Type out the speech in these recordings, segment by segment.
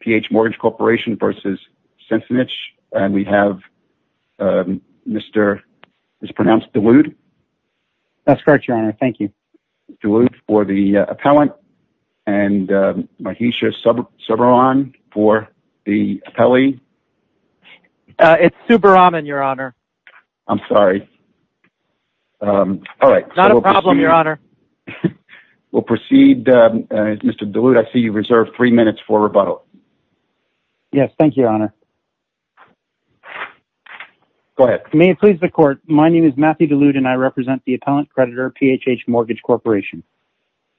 P.H. Mortgage Corporation v. Sensenich, and we have Mr. mispronounced DeWood. That's correct, Your Honor. Thank you. DeWood for the appellant, and Mahisha Subbaraman for the appellee. It's Subbaraman, Your Honor. I'm sorry. All right. Not a problem, Your Honor. We'll proceed. Mr. DeWood, I see you reserved three minutes for rebuttal. Yes, thank you, Your Honor. Go ahead. May it please the court, my name is Matthew DeWood, and I represent the appellant creditor, P.H.H. Mortgage Corporation.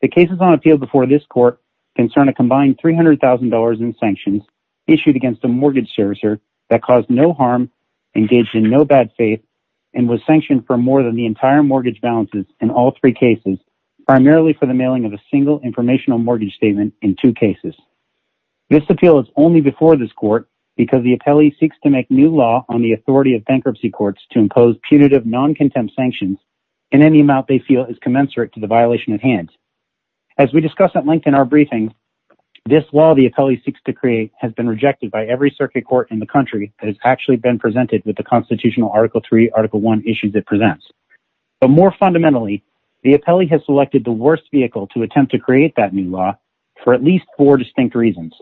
The cases on appeal before this court concern a combined $300,000 in sanctions issued against a mortgage servicer that caused no harm, engaged in no bad faith, and was sanctioned for more than the entire mortgage balances in all three cases, primarily for the mailing of a single informational mortgage statement in two cases. This appeal is only before this court because the appellee seeks to make new law on the authority of bankruptcy courts to impose punitive non-contempt sanctions in any amount they feel is commensurate to the violation at hand. As we discussed at length in our briefing, this law the appellee seeks to create has been rejected by every circuit court in the country that has actually been presented with the constitutional Article III, Article I issues it presents. But more fundamentally, the appellee has selected the worst vehicle to attempt to create that new law for at least four distinct reasons.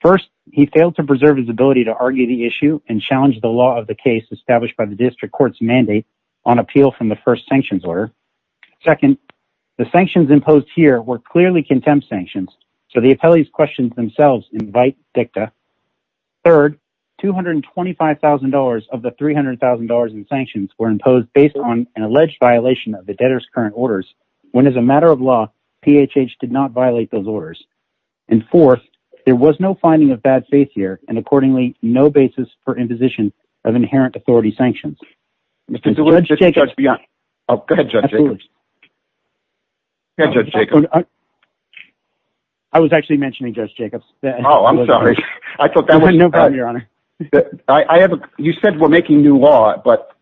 First, he failed to preserve his ability to argue the issue and challenge the law of the case established by the district court's mandate on appeal from the first sanctions order. Second, the sanctions imposed here were clearly contempt sanctions, so the appellee's questions themselves invite dicta. Third, $225,000 of the $300,000 in sanctions were imposed based on an alleged violation of the debtor's current orders, when as a matter of law, PHH did not violate those orders. And fourth, there was no finding of bad faith here, and accordingly, no basis for imposition of inherent authority sanctions. Judge Jacobs. Oh, go ahead, Judge Jacobs. Absolutely. Go ahead, Judge Jacobs. I was actually mentioning Judge Jacobs. Oh, I'm sorry. No problem, Your Honor. You said we're making new law, but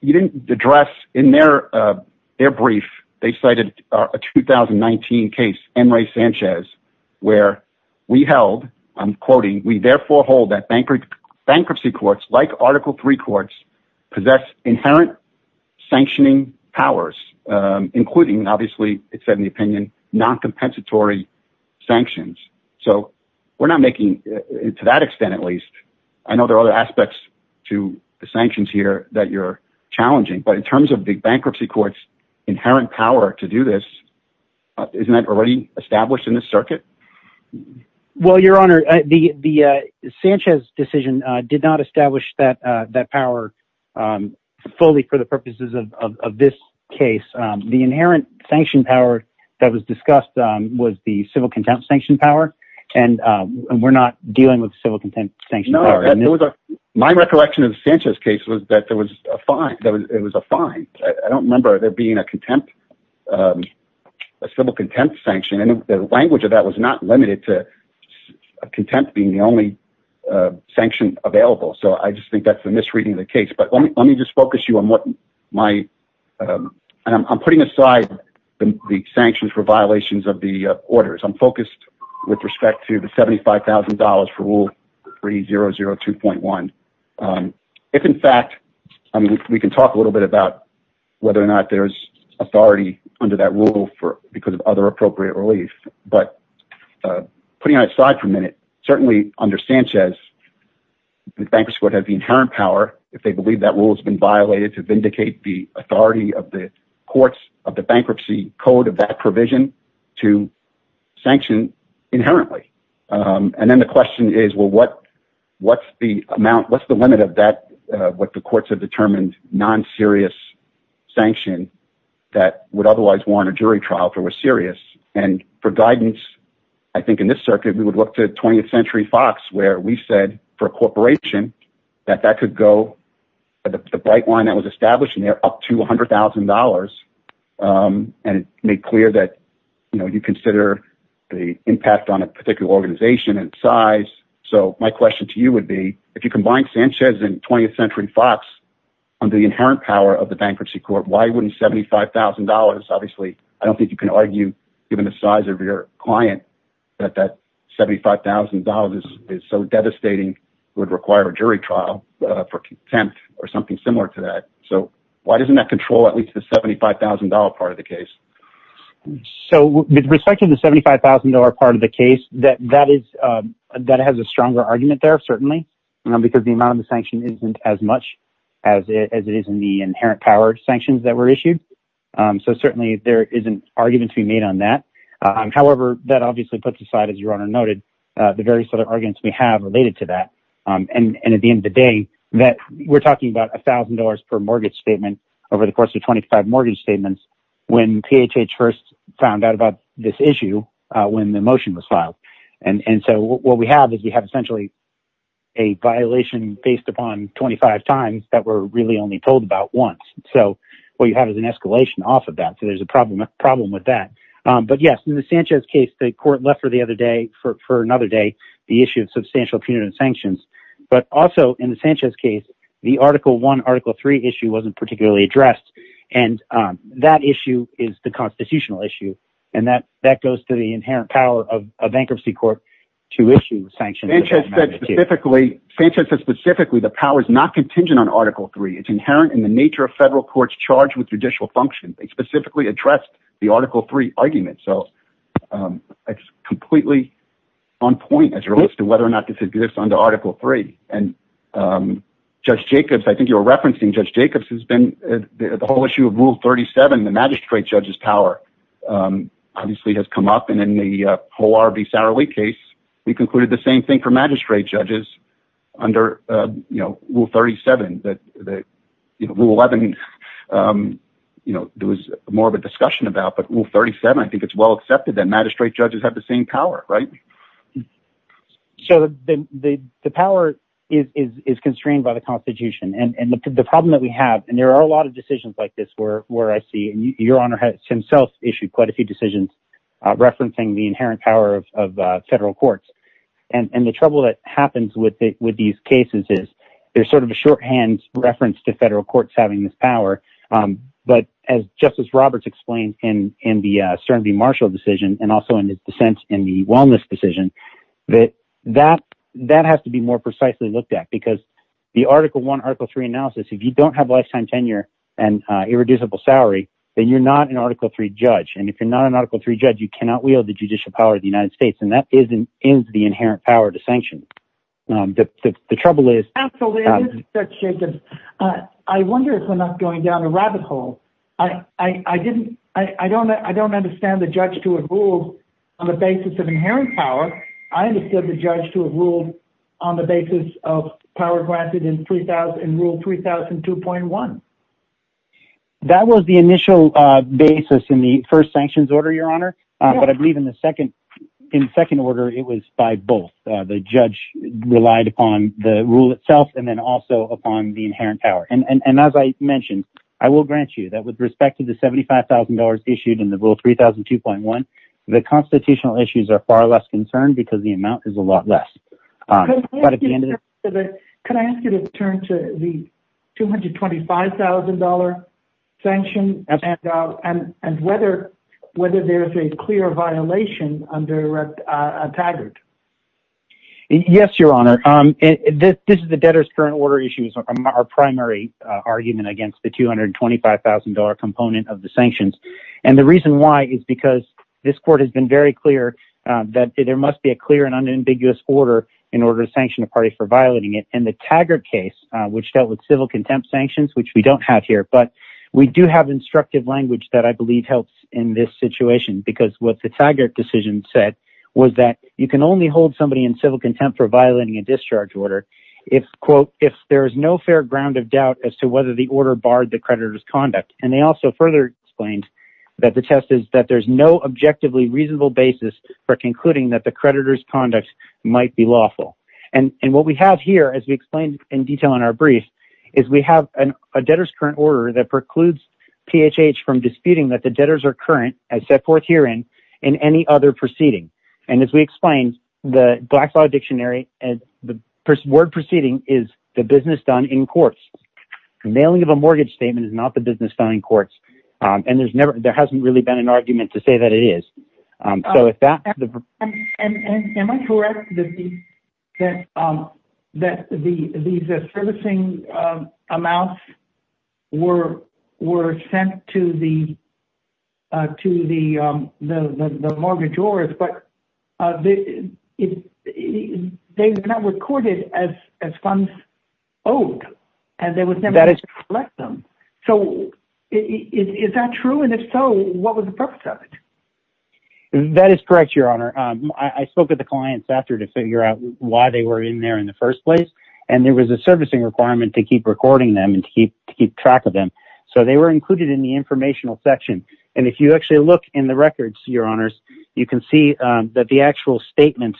you didn't address in their brief, they cited a 2019 case, Enrique Sanchez, where we held, I'm quoting, we therefore hold that bankruptcy courts, like Article III courts, possess inherent sanctioning powers, including, obviously, it said in the opinion, non-compensatory sanctions. So we're not making, to that extent at least, I know there are other aspects to the sanctions here that you're challenging, but in terms of the bankruptcy court's inherent power to do this, isn't that already established in this circuit? Well, Your Honor, the Sanchez decision did not establish that power fully for the purposes of this case. The inherent sanction power that was discussed was the civil contempt sanction power, and we're not dealing with civil contempt sanction power. No, my recollection of the Sanchez case was that there was a fine. I don't remember there being a contempt, a civil contempt sanction, and the language of that was not limited to contempt being the only sanction available. So I just think that's a misreading of the case. But let me just focus you on what my, I'm putting aside the sanctions for violations of the orders. I'm focused with respect to the $75,000 for Rule 3002.1. If, in fact, we can talk a little bit about whether or not there's authority under that rule because of other appropriate relief, but putting that aside for a minute, certainly under Sanchez, the bankruptcy court has the inherent power, if they believe that rule has been violated, to vindicate the authority of the courts of the bankruptcy code of that provision to sanction inherently. And then the question is, well, what's the amount, what's the limit of that, what the courts have determined non-serious sanction that would otherwise warrant a jury trial if it was serious? And for guidance, I think in this circuit, we would look to 20th Century Fox where we said for a corporation that that could go, the bright line that was established in there up to $100,000. And it made clear that, you know, you consider the impact on a particular organization and size. So my question to you would be, if you combine Sanchez and 20th Century Fox on the inherent power of the bankruptcy court, why wouldn't $75,000? Obviously, I don't think you can argue, given the size of your client, that that $75,000 is so devastating would require a jury trial for contempt or something similar to that. So why doesn't that control at least the $75,000 part of the case? So with respect to the $75,000 part of the case, that has a stronger argument there, certainly, because the amount of the sanction isn't as much as it is in the inherent power sanctions that were issued. So certainly there is an argument to be made on that. However, that obviously puts aside, as your honor noted, the various other arguments we have related to that. And at the end of the day, that we're talking about $1,000 per mortgage statement over the course of 25 mortgage statements. When PHH first found out about this issue, when the motion was filed. And so what we have is we have essentially a violation based upon 25 times that were really only told about once. So what you have is an escalation off of that, so there's a problem with that. But yes, in the Sanchez case, the court left for another day the issue of substantial punitive sanctions. But also in the Sanchez case, the Article I, Article III issue wasn't particularly addressed, and that issue is the constitutional issue. And that goes to the inherent power of a bankruptcy court to issue sanctions. Sanchez said specifically the power is not contingent on Article III. It's inherent in the nature of federal courts charged with judicial functions. They specifically addressed the Article III argument. So it's completely on point as it relates to whether or not this exists under Article III. And Judge Jacobs, I think you were referencing Judge Jacobs, has been the whole issue of Rule 37, the magistrate judge's power, obviously has come up. And in the whole R.B. Sarali case, we concluded the same thing for magistrate judges under Rule 37. Rule 11, there was more of a discussion about, but Rule 37, I think it's well accepted that magistrate judges have the same power, right? So the power is constrained by the Constitution. And the problem that we have, and there are a lot of decisions like this where I see, and Your Honor has himself issued quite a few decisions referencing the inherent power of federal courts. And the trouble that happens with these cases is there's sort of a shorthand reference to federal courts having this power. But just as Roberts explained in the Stern v. Marshall decision, and also in his dissent in the Wellness decision, that has to be more precisely looked at. Because the Article I, Article III analysis, if you don't have lifetime tenure and irreducible salary, then you're not an Article III judge. And if you're not an Article III judge, you cannot wield the judicial power of the United States. And that is the inherent power to sanction. Absolutely. I wonder if we're not going down a rabbit hole. I don't understand the judge to have ruled on the basis of inherent power. I understand the judge to have ruled on the basis of power granted in Rule 3002.1. That was the initial basis in the first sanctions order, Your Honor. But I believe in the second order, it was by both. The judge relied upon the rule itself and then also upon the inherent power. And as I mentioned, I will grant you that with respect to the $75,000 issued in the Rule 3002.1, the constitutional issues are far less concerned because the amount is a lot less. Could I ask you to turn to the $225,000 sanction and whether there is a clear violation under Taggart? Yes, Your Honor. This is the debtor's current order issue. It's our primary argument against the $225,000 component of the sanctions. And the reason why is because this court has been very clear that there must be a clear and unambiguous order in order to sanction a party for violating it. And the Taggart case, which dealt with civil contempt sanctions, which we don't have here, but we do have instructive language that I believe helps in this situation. Because what the Taggart decision said was that you can only hold somebody in civil contempt for violating a discharge order if, quote, if there is no fair ground of doubt as to whether the order barred the creditor's conduct. And they also further explained that the test is that there's no objectively reasonable basis for concluding that the creditor's conduct might be lawful. And what we have here, as we explained in detail in our brief, is we have a debtor's current order that precludes PHH from disputing that the debtors are current, as set forth herein, in any other proceeding. And as we explained, the Blackfriars Dictionary, the word proceeding is the business done in courts. Nailing of a mortgage statement is not the business done in courts. And there hasn't really been an argument to say that it is. Am I correct that these servicing amounts were sent to the mortgagors, but they were not recorded as funds owed. And there was never a way to collect them. So is that true? And if so, what was the purpose of it? That is correct, Your Honor. I spoke with the clients after to figure out why they were in there in the first place. And there was a servicing requirement to keep recording them and to keep track of them. So they were included in the informational section. And if you actually look in the records, Your Honors, you can see that the actual statements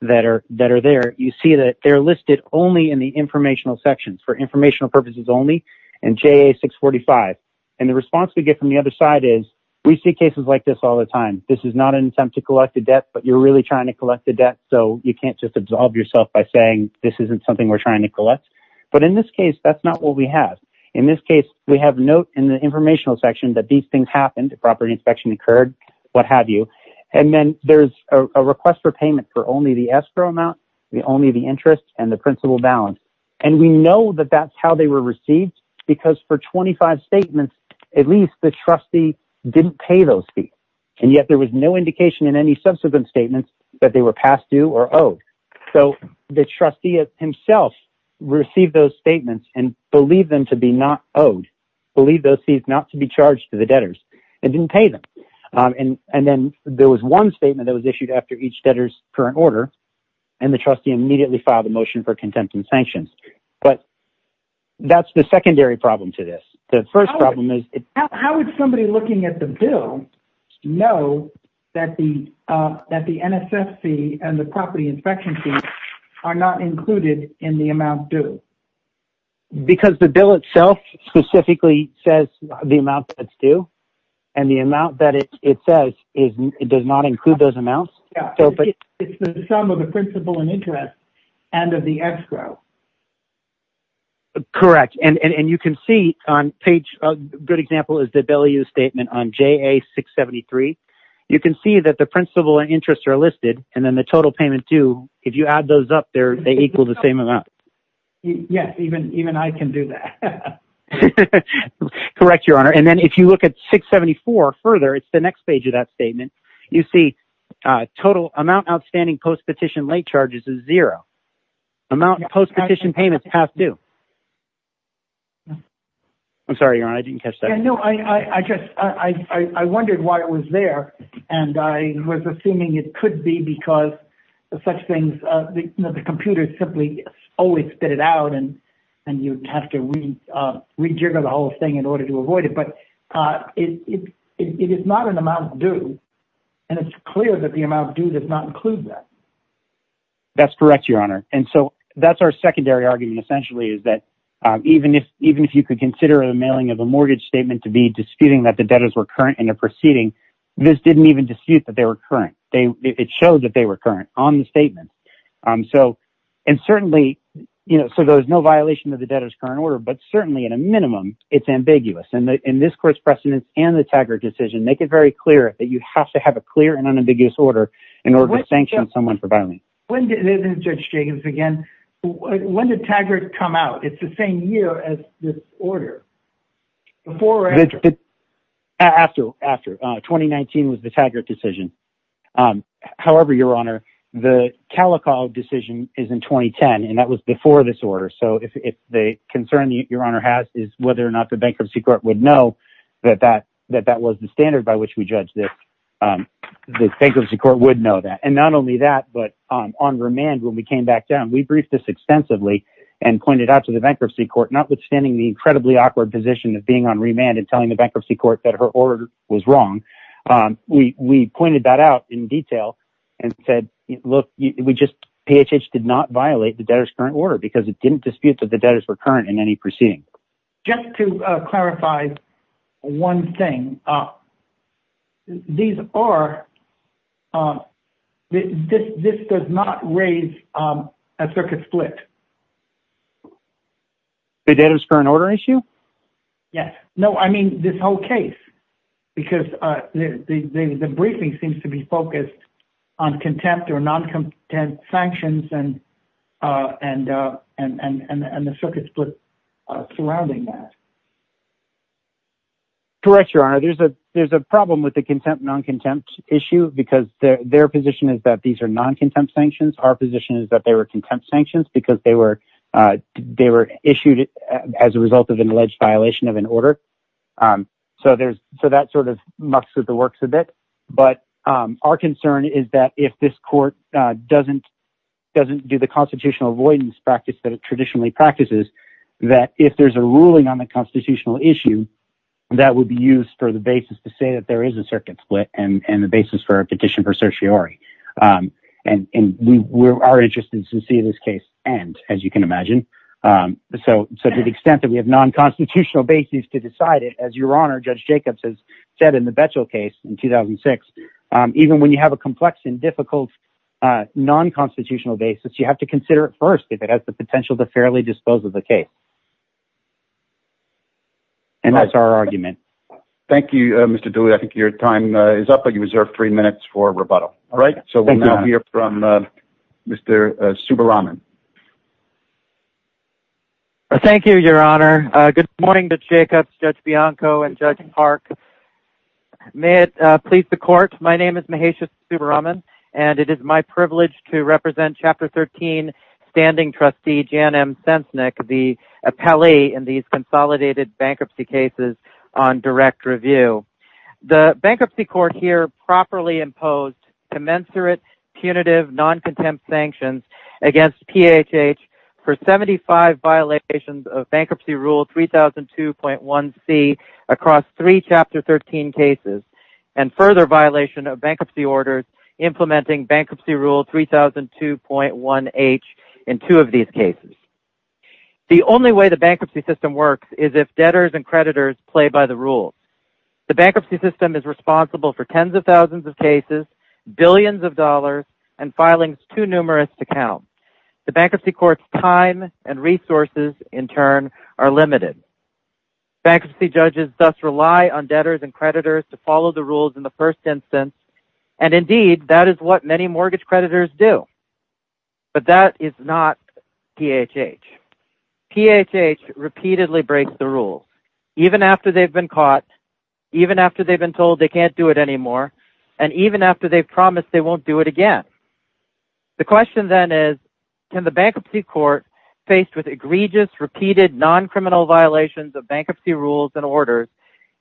that are there, you see that they're listed only in the informational sections, for informational purposes only, in JA 645. And the response we get from the other side is, we see cases like this all the time. This is not an attempt to collect a debt, but you're really trying to collect a debt. So you can't just absolve yourself by saying this isn't something we're trying to collect. But in this case, that's not what we have. In this case, we have note in the informational section that these things happened, a property inspection occurred, what have you. And then there's a request for payment for only the escrow amount, only the interest and the principal balance. And we know that that's how they were received, because for 25 statements, at least the trustee didn't pay those fees. And yet there was no indication in any subsequent statements that they were past due or owed. So the trustee himself received those statements and believed them to be not owed, believed those fees not to be charged to the debtors and didn't pay them. And then there was one statement that was issued after each debtor's current order. And the trustee immediately filed a motion for contempt and sanctions. But that's the secondary problem to this. The first problem is... How would somebody looking at the bill know that the NSFC and the property inspection fees are not included in the amount due? Because the bill itself specifically says the amount that's due. And the amount that it says does not include those amounts. It's the sum of the principal and interest and of the escrow. Correct. And you can see on page... A good example is the value statement on JA673. You can see that the principal and interest are listed and then the total payment due. If you add those up there, they equal the same amount. Yes, even I can do that. Correct, Your Honor. And then if you look at 674 further, it's the next page of that statement. You see total amount outstanding post-petition late charges is zero. Amount post-petition payments past due. I'm sorry, Your Honor. I didn't catch that. I wondered why it was there. And I was assuming it could be because such things... The computer simply always spit it out and you'd have to rejigger the whole thing in order to avoid it. But it is not an amount due. And it's clear that the amount due does not include that. That's correct, Your Honor. And so that's our secondary argument, essentially, is that even if you could consider the mailing of a mortgage statement to be disputing that the debtors were current in their proceeding, this didn't even dispute that they were current. It showed that they were current on the statement. And certainly, you know, so there's no violation of the debtor's current order, but certainly in a minimum, it's ambiguous. And this court's precedence and the Taggart decision make it very clear that you have to have a clear and unambiguous order in order to sanction someone for violence. Judge Jenkins, again, when did Taggart come out? It's the same year as this order. Before or after? After. After. 2019 was the Taggart decision. However, Your Honor, the Calico decision is in 2010, and that was before this order. So if the concern Your Honor has is whether or not the bankruptcy court would know that that was the standard by which we judge this, the bankruptcy court would know that. And not only that, but on remand when we came back down, we briefed this extensively and pointed out to the bankruptcy court, notwithstanding the incredibly awkward position of being on remand and telling the bankruptcy court that her order was wrong. We pointed that out in detail and said, look, we just, PHH did not violate the debtor's current order because it didn't dispute that the debtors were current in any proceeding. Just to clarify one thing, these are, this does not raise a circuit split. The debtor's current order issue? Yes. No, I mean this whole case. Because the briefing seems to be focused on contempt or non-contempt sanctions and the circuit split surrounding that. Correct, Your Honor. There's a problem with the contempt, non-contempt issue because their position is that these are non-contempt sanctions. Our position is that they were contempt sanctions because they were issued as a result of an alleged violation of an order. So that sort of mucks with the works a bit. But our concern is that if this court doesn't do the constitutional avoidance practice that it traditionally practices, that if there's a ruling on the constitutional issue, that would be used for the basis to say that there is a circuit split and the basis for a petition for certiorari. And we are interested to see this case end, as you can imagine. So to the extent that we have non-constitutional basis to decide it, as Your Honor, Judge Jacobs has said in the Betchell case in 2006, even when you have a complex and difficult non-constitutional basis, you have to consider it first if it has the potential to fairly dispose of the case. And that's our argument. Thank you, Mr. Dooley. I think your time is up, but you reserve three minutes for rebuttal. So we'll now hear from Mr. Subbaraman. Thank you, Your Honor. Good morning, Judge Jacobs, Judge Bianco, and Judge Park. May it please the court, my name is Mahesha Subbaraman, and it is my privilege to represent Chapter 13 Standing Trustee Jan M. Sensnick, the appellee in these consolidated bankruptcy cases on direct review. The bankruptcy court here properly imposed commensurate, punitive, non-contempt sanctions against PHH for 75 violations of Bankruptcy Rule 3002.1c across three Chapter 13 cases, and further violation of bankruptcy orders implementing Bankruptcy Rule 3002.1h in two of these cases. The only way the bankruptcy system works is if debtors and creditors play by the rules. The bankruptcy system is responsible for tens of thousands of cases, billions of dollars, and filings too numerous to count. The bankruptcy court's time and resources, in turn, are limited. Bankruptcy judges thus rely on debtors and creditors to follow the rules in the first instance, and indeed, that is what many mortgage creditors do. But that is not PHH. PHH repeatedly breaks the rules, even after they've been caught, even after they've been told they can't do it anymore, and even after they've promised they won't do it again. The question then is, can the bankruptcy court, faced with egregious, repeated, non-criminal violations of bankruptcy rules and orders,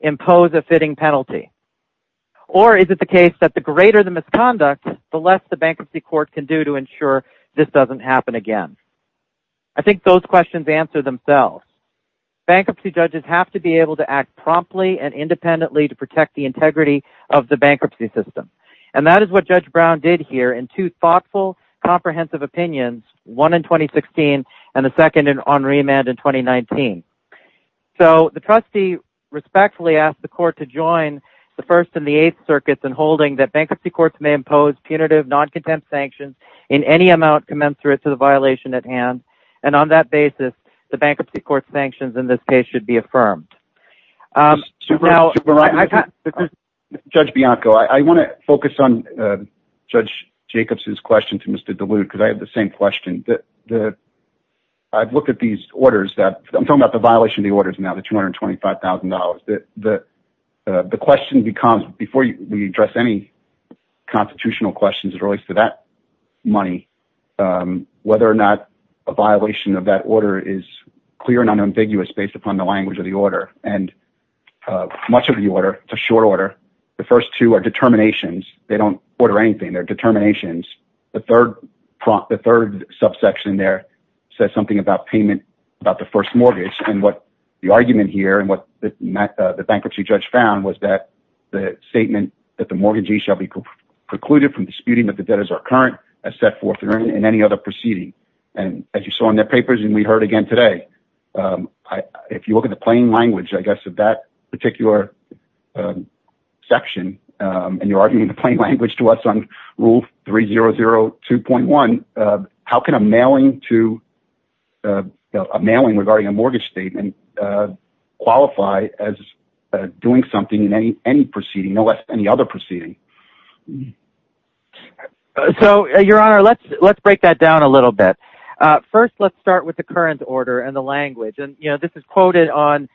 impose a fitting penalty? Or is it the case that the greater the misconduct, the less the bankruptcy court can do to ensure this doesn't happen again? I think those questions answer themselves. Bankruptcy judges have to be able to act promptly and independently to protect the integrity of the bankruptcy system. And that is what Judge Brown did here in two thoughtful, comprehensive opinions, one in 2016 and the second on remand in 2019. So, the trustee respectfully asked the court to join the First and the Eighth Circuits in holding that bankruptcy courts may impose punitive, non-contempt sanctions in any amount commensurate to the violation at hand. And on that basis, the bankruptcy court's sanctions in this case should be affirmed. Judge Bianco, I want to focus on Judge Jacobs' question to Mr. DeLude, because I have the same question. I've looked at these orders that – I'm talking about the violation of the orders now, the $225,000. The question becomes, before we address any constitutional questions as it relates to that money, whether or not a violation of that order is clear and unambiguous based upon the language of the order. And much of the order – it's a short order. The first two are determinations. They don't order anything. They're determinations. The third subsection there says something about payment, about the first mortgage. And what the argument here and what the bankruptcy judge found was that the statement that the mortgagee shall be precluded from disputing that the debtors are current as set forth in any other proceeding. And as you saw in their papers and we heard again today, if you look at the plain language, I guess, of that particular section and you're arguing the plain language to us on Rule 3002.1, how can a mailing regarding a mortgage statement qualify as doing something in any proceeding, no less than any other proceeding? So, Your Honor, let's break that down a little bit. First, let's start with the current order and the language. And this is quoted on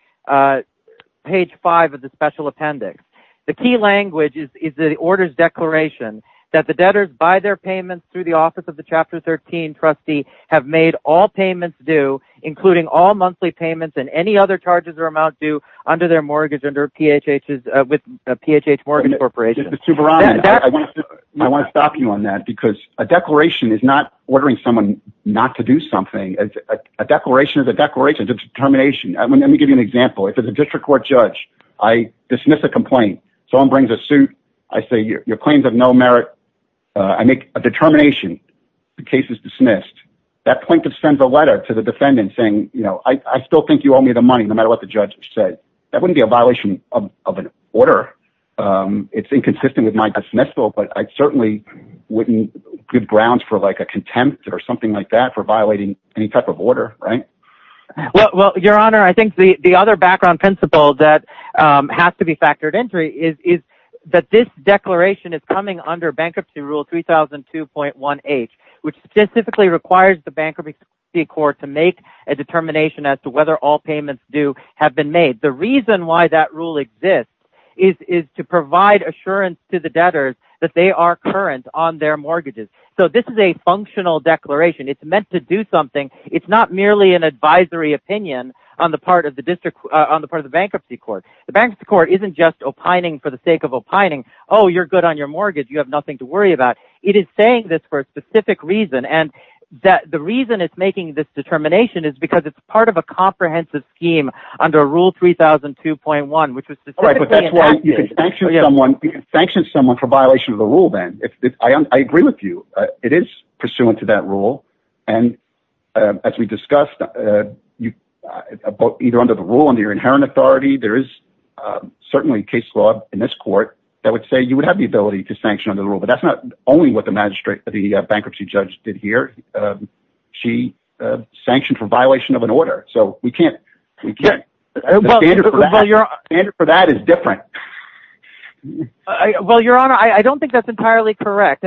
page 5 of the Special Appendix. The key language is the order's declaration that the debtors, by their payments through the office of the Chapter 13 trustee, have made all payments due, including all monthly payments and any other charges or amount due under their mortgage with PHH Morgan Corporation. Mr. Subramanian, I want to stop you on that because a declaration is not ordering someone not to do something. A declaration is a declaration. It's a determination. Let me give you an example. If it's a district court judge, I dismiss a complaint. Someone brings a suit. I say, your claims have no merit. I make a determination. The case is dismissed. That plaintiff sends a letter to the defendant saying, you know, I still think you owe me the money, no matter what the judge said. That wouldn't be a violation of an order. It's inconsistent with my dismissal, but I certainly wouldn't give grounds for like a contempt or something like that for violating any type of order, right? Well, your honor, I think the other background principle that has to be factored into it is that this declaration is coming under bankruptcy rule 3002.1H, which specifically requires the bankruptcy court to make a determination as to whether all payments due have been made. The reason why that rule exists is to provide assurance to the debtors that they are current on their mortgages. So this is a functional declaration. It's meant to do something. It's not merely an advisory opinion on the part of the district, on the part of the bankruptcy court. The bankruptcy court isn't just opining for the sake of opining. Oh, you're good on your mortgage. You have nothing to worry about. It is saying this for a specific reason and that the reason it's making this determination is because it's part of a comprehensive scheme under rule 3002.1, which was specifically enacted. You can sanction someone for violation of the rule then. I agree with you. It is pursuant to that rule. And as we discussed, either under the rule under your inherent authority, there is certainly case law in this court that would say you would have the ability to sanction under the rule. But that's not only what the magistrate, the bankruptcy judge did here. She sanctioned for violation of an order. So we can't. We can't. The standard for that is different. Well, your honor, I don't think that's entirely correct.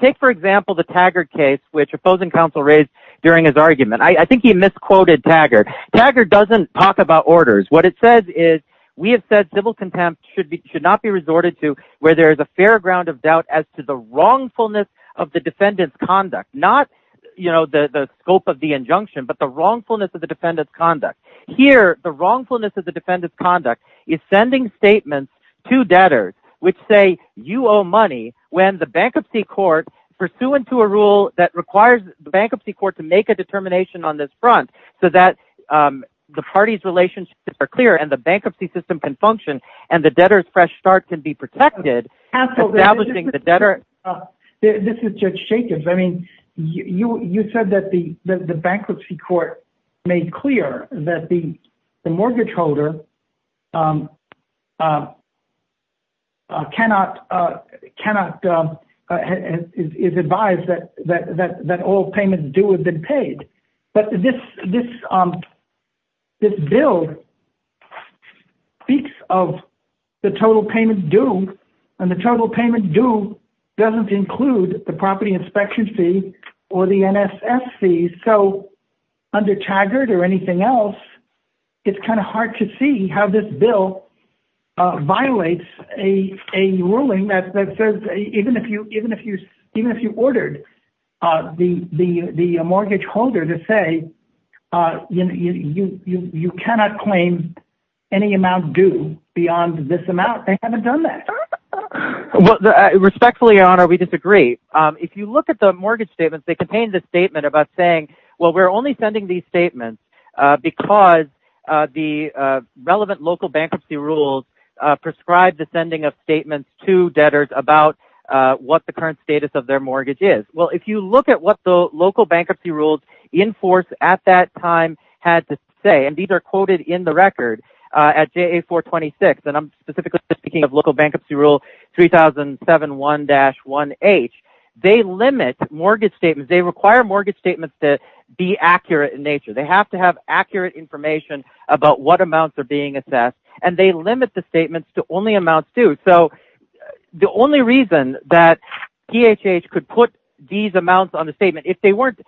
Take, for example, the Taggart case, which opposing counsel raised during his argument. I think he misquoted Taggart. Taggart doesn't talk about orders. What it says is we have said civil contempt should not be resorted to where there is a fair ground of doubt as to the wrongfulness of the defendant's conduct. Not the scope of the injunction, but the wrongfulness of the defendant's conduct. Here, the wrongfulness of the defendant's conduct is sending statements to debtors which say you owe money when the bankruptcy court pursuant to a rule that requires the bankruptcy court to make a determination on this front so that the parties' relationships are clear and the bankruptcy system can function and the debtors' fresh start can be protected. This is Judge Jacobs. I mean, you said that the bankruptcy court made clear that the mortgage holder cannot, is advised that all payments due have been paid. But this bill speaks of the total payment due, and the total payment due doesn't include the property inspection fee or the NSF fees. Under Taggart or anything else, it's kind of hard to see how this bill violates a ruling that says even if you ordered the mortgage holder to say you cannot claim any amount due beyond this amount, they haven't done that. Respectfully, Your Honor, we disagree. If you look at the mortgage statements, they contain the statement about saying, well, we're only sending these statements because the relevant local bankruptcy rules prescribe the sending of statements to debtors about what the current status of their mortgage is. Well, if you look at what the local bankruptcy rules in force at that time had to say, and these are quoted in the record at JA-426, and I'm specifically speaking of local bankruptcy rule 3007-1-1H, they limit mortgage statements. They require mortgage statements to be accurate in nature. They have to have accurate information about what amounts are being assessed, and they limit the statements to only amounts due. The only reason that PHH could put these amounts on the statement if they weren't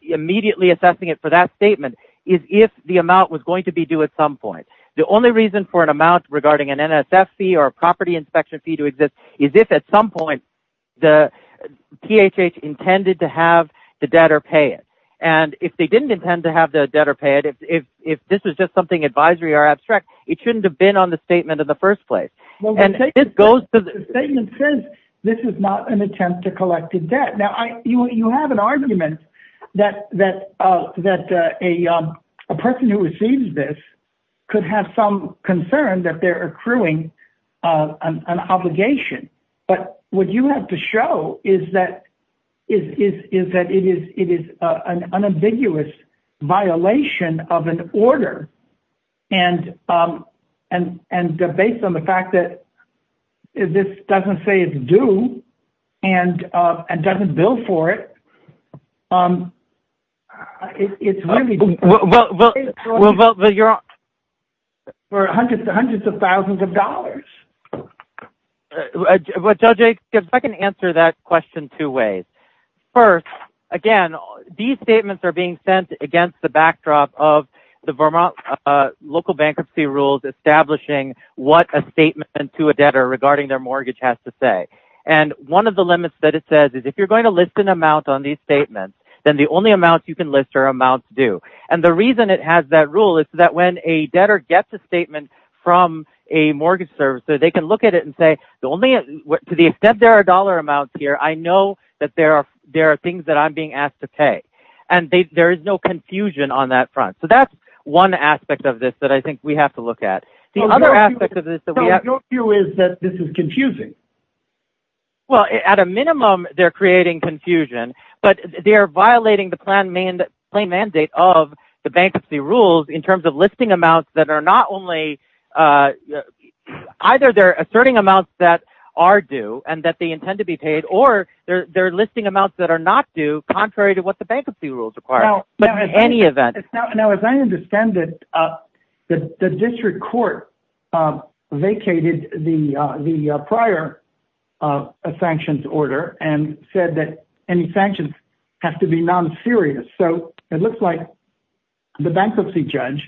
immediately assessing it for that statement is if the amount was going to be due at some point. The only reason for an amount regarding an NSF fee or a property inspection fee to exist is if at some point PHH intended to have the debtor pay it. If they didn't intend to have the debtor pay it, if this was just something advisory or abstract, it shouldn't have been on the statement in the first place. The statement says this is not an attempt to collect a debt. Now, you have an argument that a person who receives this could have some concern that they're accruing an obligation. But what you have to show is that it is an unambiguous violation of an order, and based on the fact that this doesn't say it's due and doesn't bill for it, it's really— Well, you're— For hundreds and hundreds of thousands of dollars. Judge, if I can answer that question two ways. First, again, these statements are being sent against the backdrop of the Vermont local bankruptcy rules establishing what a statement to a debtor regarding their mortgage has to say. And one of the limits that it says is if you're going to list an amount on these statements, then the only amounts you can list are amounts due. And the reason it has that rule is so that when a debtor gets a statement from a mortgage servicer, they can look at it and say, to the extent there are dollar amounts here, I know that there are things that I'm being asked to pay. And there is no confusion on that front. So that's one aspect of this that I think we have to look at. The other aspect of this that we have— No, your view is that this is confusing. Well, at a minimum, they're creating confusion. But they're violating the claim mandate of the bankruptcy rules in terms of listing amounts that are not only— Either they're asserting amounts that are due and that they intend to be paid, or they're listing amounts that are not due, contrary to what the bankruptcy rules require. Now— But in any event— Now, as I understand it, the district court vacated the prior sanctions order and said that any sanctions have to be non-serious. So it looks like the bankruptcy judge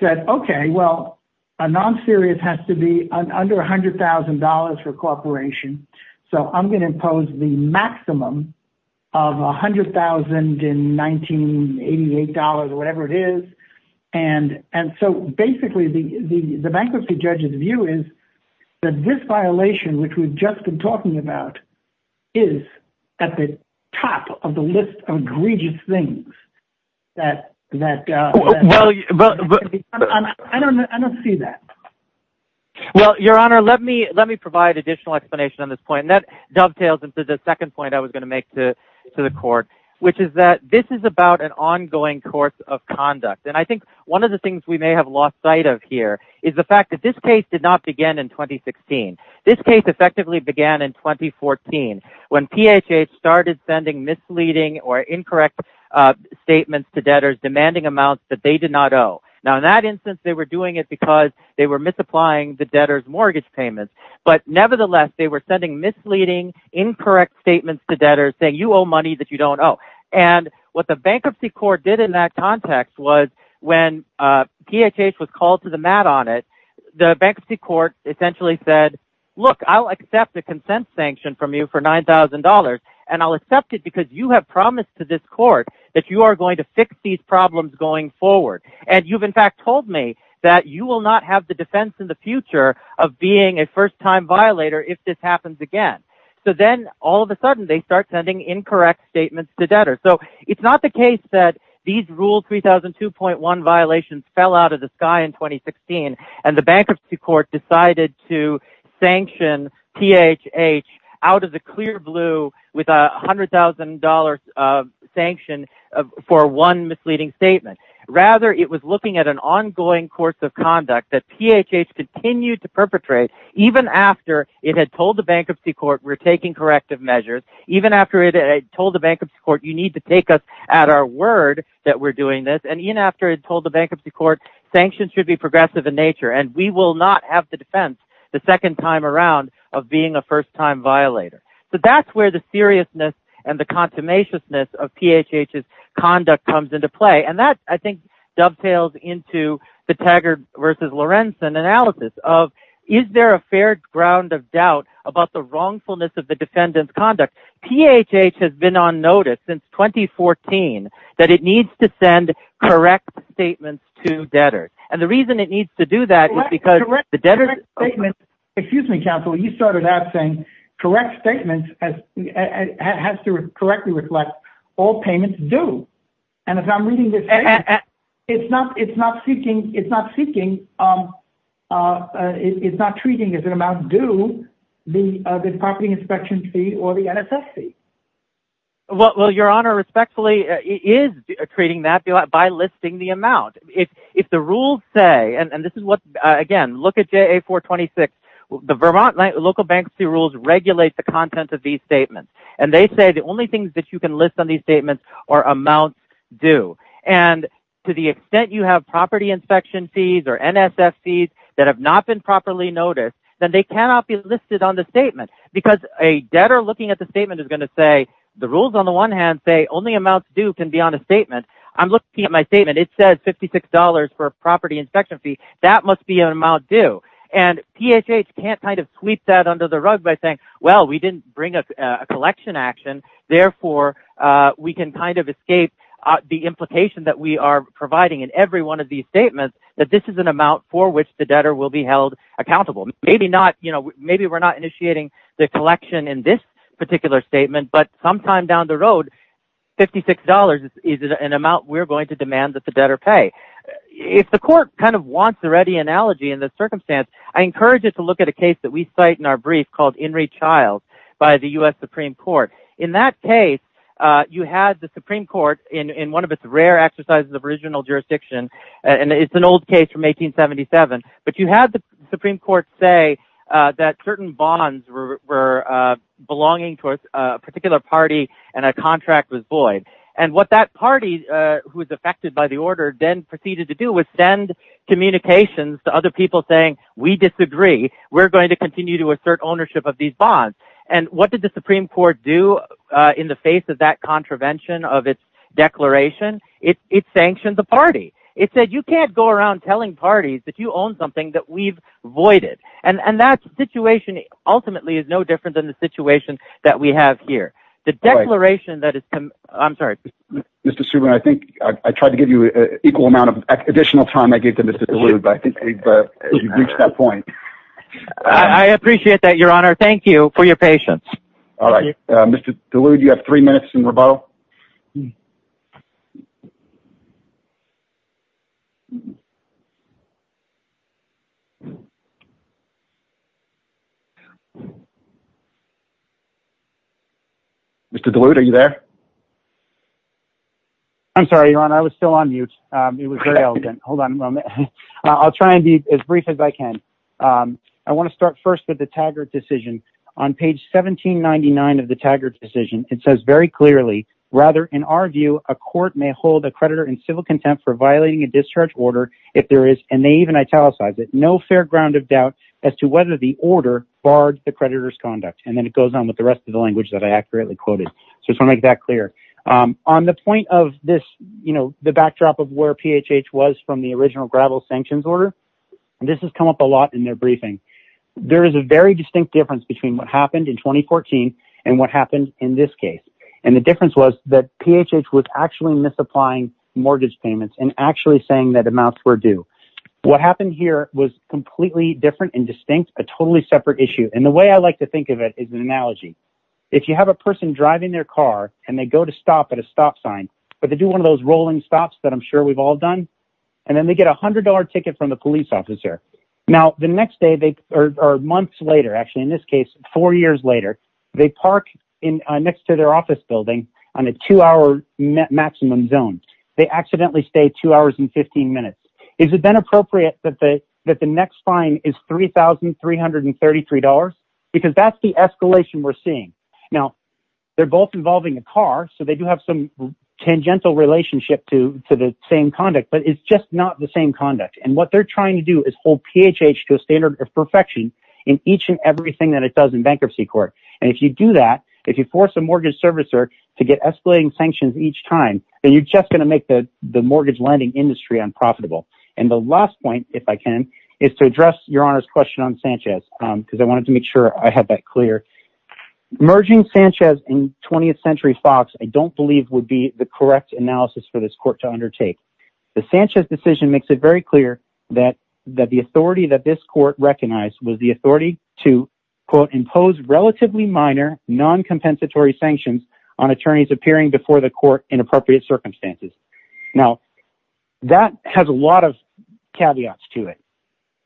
said, okay, well, a non-serious has to be under $100,000 for cooperation. So I'm going to impose the maximum of $100,000 in 1988 dollars or whatever it is. And so, basically, the bankruptcy judge's view is that this violation, which we've just been talking about, is at the top of the list of egregious things that— Well— I don't see that. Well, Your Honor, let me provide additional explanation on this point. And that dovetails into the second point I was going to make to the court, which is that this is about an ongoing course of conduct. And I think one of the things we may have lost sight of here is the fact that this case did not begin in 2016. This case effectively began in 2014, when PHH started sending misleading or incorrect statements to debtors demanding amounts that they did not owe. Now, in that instance, they were doing it because they were misapplying the debtors' mortgage payments. But, nevertheless, they were sending misleading, incorrect statements to debtors saying, you owe money that you don't owe. And what the bankruptcy court did in that context was, when PHH was called to the mat on it, the bankruptcy court essentially said, look, I'll accept a consent sanction from you for $9,000. And I'll accept it because you have promised to this court that you are going to fix these problems going forward. And you've, in fact, told me that you will not have the defense in the future of being a first-time violator if this happens again. So then, all of a sudden, they start sending incorrect statements to debtors. So it's not the case that these Rule 3002.1 violations fell out of the sky in 2016 and the bankruptcy court decided to sanction PHH out of the clear blue with a $100,000 sanction for one misleading statement. Rather, it was looking at an ongoing course of conduct that PHH continued to perpetrate even after it had told the bankruptcy court, we're taking corrective measures. Even after it had told the bankruptcy court, you need to take us at our word that we're doing this. And even after it had told the bankruptcy court, sanctions should be progressive in nature and we will not have the defense the second time around of being a first-time violator. So that's where the seriousness and the consummation of PHH's conduct comes into play. And that, I think, dovetails into the Taggart v. Lorenzen analysis of, is there a fair ground of doubt about the wrongfulness of the defendant's conduct? PHH has been on notice since 2014 that it needs to send correct statements to debtors. And the reason it needs to do that is because the debtors… Correct statements has to correctly reflect all payments due. And if I'm reading this, it's not seeking, it's not treating as an amount due the property inspection fee or the NSF fee. Well, Your Honor, respectfully, it is treating that by listing the amount. If the rules say, and this is what, again, look at JA 426, the Vermont local bankruptcy rules regulate the content of these statements. And they say the only things that you can list on these statements are amounts due. And to the extent you have property inspection fees or NSF fees that have not been properly noticed, then they cannot be listed on the statement. Because a debtor looking at the statement is going to say, the rules on the one hand say only amounts due can be on a statement. I'm looking at my statement. It says $56 for a property inspection fee. That must be an amount due. And PHH can't kind of sweep that under the rug by saying, well, we didn't bring a collection action. Therefore, we can kind of escape the implication that we are providing in every one of these statements that this is an amount for which the debtor will be held accountable. Maybe we're not initiating the collection in this particular statement. But sometime down the road, $56 is an amount we're going to demand that the debtor pay. If the court kind of wants a ready analogy in this circumstance, I encourage you to look at a case that we cite in our brief called Henry Childs by the U.S. Supreme Court. In that case, you had the Supreme Court in one of its rare exercises of original jurisdiction. And it's an old case from 1877. But you had the Supreme Court say that certain bonds were belonging to a particular party and a contract was void. And what that party, who was affected by the order, then proceeded to do was send communications to other people saying, we disagree. We're going to continue to assert ownership of these bonds. And what did the Supreme Court do in the face of that contravention of its declaration? It sanctioned the party. It said, you can't go around telling parties that you own something that we've voided. And that situation ultimately is no different than the situation that we have here. The declaration that is – I'm sorry. Mr. Subra, I think I tried to give you an equal amount of additional time I gave to Mr. DeLude. But I think we've reached that point. I appreciate that, Your Honor. Thank you for your patience. All right. Mr. DeLude, you have three minutes in rebuttal. Mr. DeLude, are you there? I'm sorry, Your Honor. I was still on mute. It was very elegant. Hold on a moment. I'll try and be as brief as I can. I want to start first with the Taggart decision. On page 1799 of the Taggart decision, it says very clearly, rather, in our view, a court may hold a creditor in civil contempt for violating a discharge order if there is, and they even italicize it, no fair ground of doubt as to whether the order barred the creditor's conduct. And then it goes on with the rest of the language that I accurately quoted. So I just want to make that clear. On the point of this, you know, the backdrop of where PHH was from the original gravel sanctions order, this has come up a lot in their briefing. There is a very distinct difference between what happened in 2014 and what happened in this case. And the difference was that PHH was actually misapplying mortgage payments and actually saying that amounts were due. What happened here was completely different and distinct, a totally separate issue. And the way I like to think of it is an analogy. If you have a person driving their car and they go to stop at a stop sign, but they do one of those rolling stops that I'm sure we've all done, and then they get a $100 ticket from the police officer. Now, the next day or months later, actually in this case, four years later, they park next to their office building on a two-hour maximum zone. They accidentally stay two hours and 15 minutes. Is it then appropriate that the next fine is $3,333? Because that's the escalation we're seeing. Now, they're both involving a car, so they do have some tangential relationship to the same conduct, but it's just not the same conduct. And what they're trying to do is hold PHH to a standard of perfection in each and everything that it does in bankruptcy court. And if you do that, if you force a mortgage servicer to get escalating sanctions each time, then you're just going to make the mortgage lending industry unprofitable. And the last point, if I can, is to address Your Honor's question on Sanchez, because I wanted to make sure I had that clear. Merging Sanchez and 20th Century Fox I don't believe would be the correct analysis for this court to undertake. The Sanchez decision makes it very clear that the authority that this court recognized was the authority to, quote, impose relatively minor noncompensatory sanctions on attorneys appearing before the court in appropriate circumstances. Now, that has a lot of caveats to it.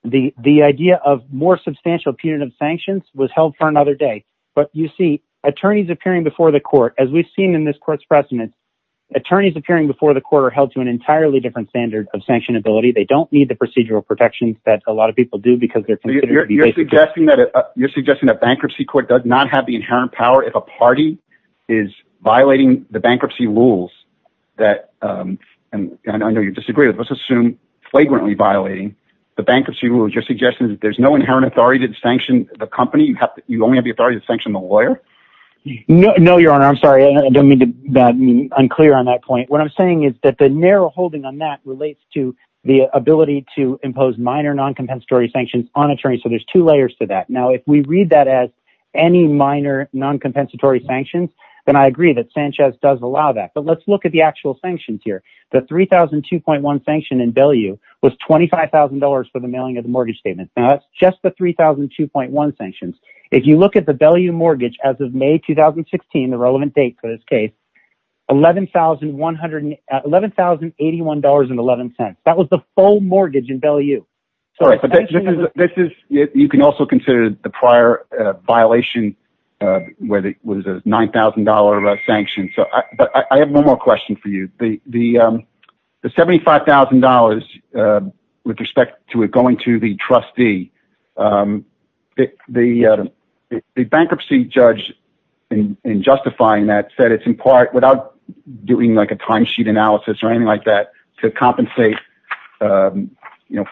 The idea of more substantial punitive sanctions was held for another day. But you see, attorneys appearing before the court, as we've seen in this court's precedents, attorneys appearing before the court are held to an entirely different standard of sanctionability. They don't need the procedural protections that a lot of people do because they're considered to be... You're suggesting that bankruptcy court does not have the inherent power if a party is violating the bankruptcy rules that, and I know you disagree with this, assume flagrantly violating the bankruptcy rules. You're suggesting that there's no inherent authority to sanction the company? You only have the authority to sanction the lawyer? No, Your Honor. I'm sorry. I don't mean to be unclear on that point. What I'm saying is that the narrow holding on that relates to the ability to impose minor noncompensatory sanctions on attorneys. So there's two layers to that. Now, if we read that as any minor noncompensatory sanctions, then I agree that Sanchez does allow that. But let's look at the actual sanctions here. The $3,002.1 sanction in Bellew was $25,000 for the mailing of the mortgage statement. Now, that's just the $3,002.1 sanctions. If you look at the Bellew mortgage as of May 2016, the relevant date for this case, $11,081.11. That was the full mortgage in Bellew. All right. You can also consider the prior violation where it was a $9,000 sanction. But I have one more question for you. The $75,000 with respect to it going to the trustee, the bankruptcy judge, in justifying that, said it's in part without doing like a timesheet analysis or anything like that to compensate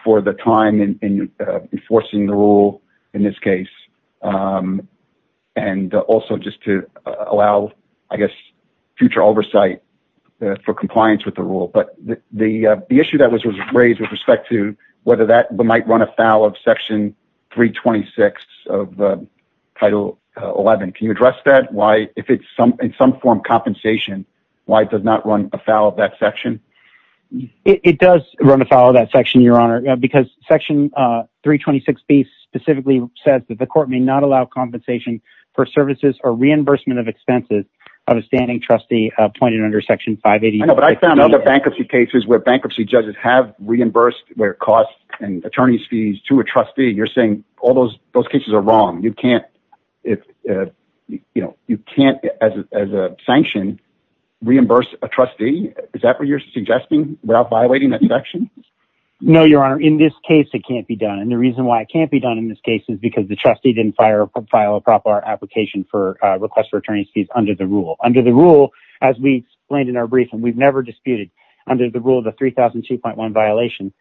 for the time in enforcing the rule in this case. And also just to allow, I guess, future oversight for compliance with the rule. But the issue that was raised with respect to whether that might run afoul of Section 326 of Title 11. Can you address that? If it's in some form compensation, why it does not run afoul of that section? It does run afoul of that section, Your Honor. Because Section 326B specifically says that the court may not allow compensation for services or reimbursement of expenses of a standing trustee appointed under Section 580. I know, but I found other bankruptcy cases where bankruptcy judges have reimbursed their costs and attorney's fees to a trustee. You're saying all those cases are wrong. You can't, you know, you can't as a sanction reimburse a trustee. Is that what you're suggesting without violating that section? No, Your Honor. In this case, it can't be done. And the reason why it can't be done in this case is because the trustee didn't file a proper application for request for attorney's fees under the rule. Under the rule, as we explained in our briefing, we've never disputed under the rule of the 3002.1 violation.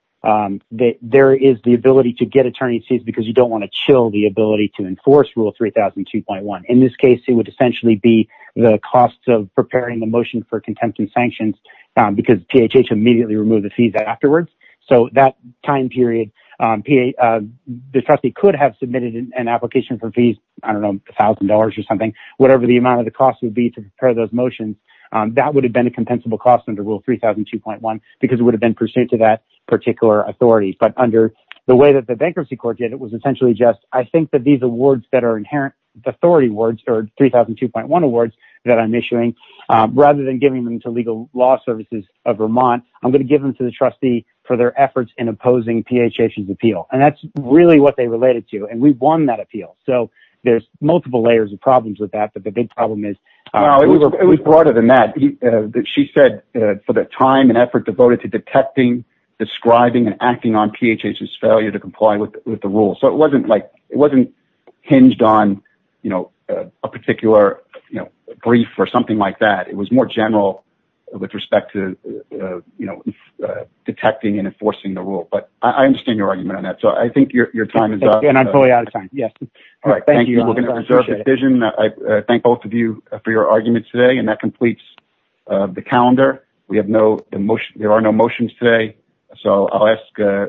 There is the ability to get attorney's fees because you don't want to chill the ability to enforce rule 3002.1. In this case, it would essentially be the cost of preparing the motion for contempt and sanctions because PHH immediately removed the fees afterwards. So that time period, the trustee could have submitted an application for fees. I don't know, a thousand dollars or something, whatever the amount of the cost would be to prepare those motions. That would have been a compensable cost under rule 3002.1 because it would have been pursuant to that particular authority. But under the way that the bankruptcy court did, it was essentially just, I think that these awards that are inherent authority words or 3002.1 awards that I'm issuing, rather than giving them to legal law services of Vermont, I'm going to give them to the trustee for their efforts in opposing PHH's appeal. And that's really what they related to. And we've won that appeal. So there's multiple layers of problems with that. But the big problem is. It was broader than that. She said for the time and effort devoted to detecting, describing and acting on PHH's failure to comply with the rule. So it wasn't hinged on a particular brief or something like that. It was more general with respect to detecting and enforcing the rule. But I understand your argument on that. So I think your time is up. All right. Thank you. I thank both of you for your argument today. And that completes the calendar. We have no emotion. There are no motions today. So I'll ask.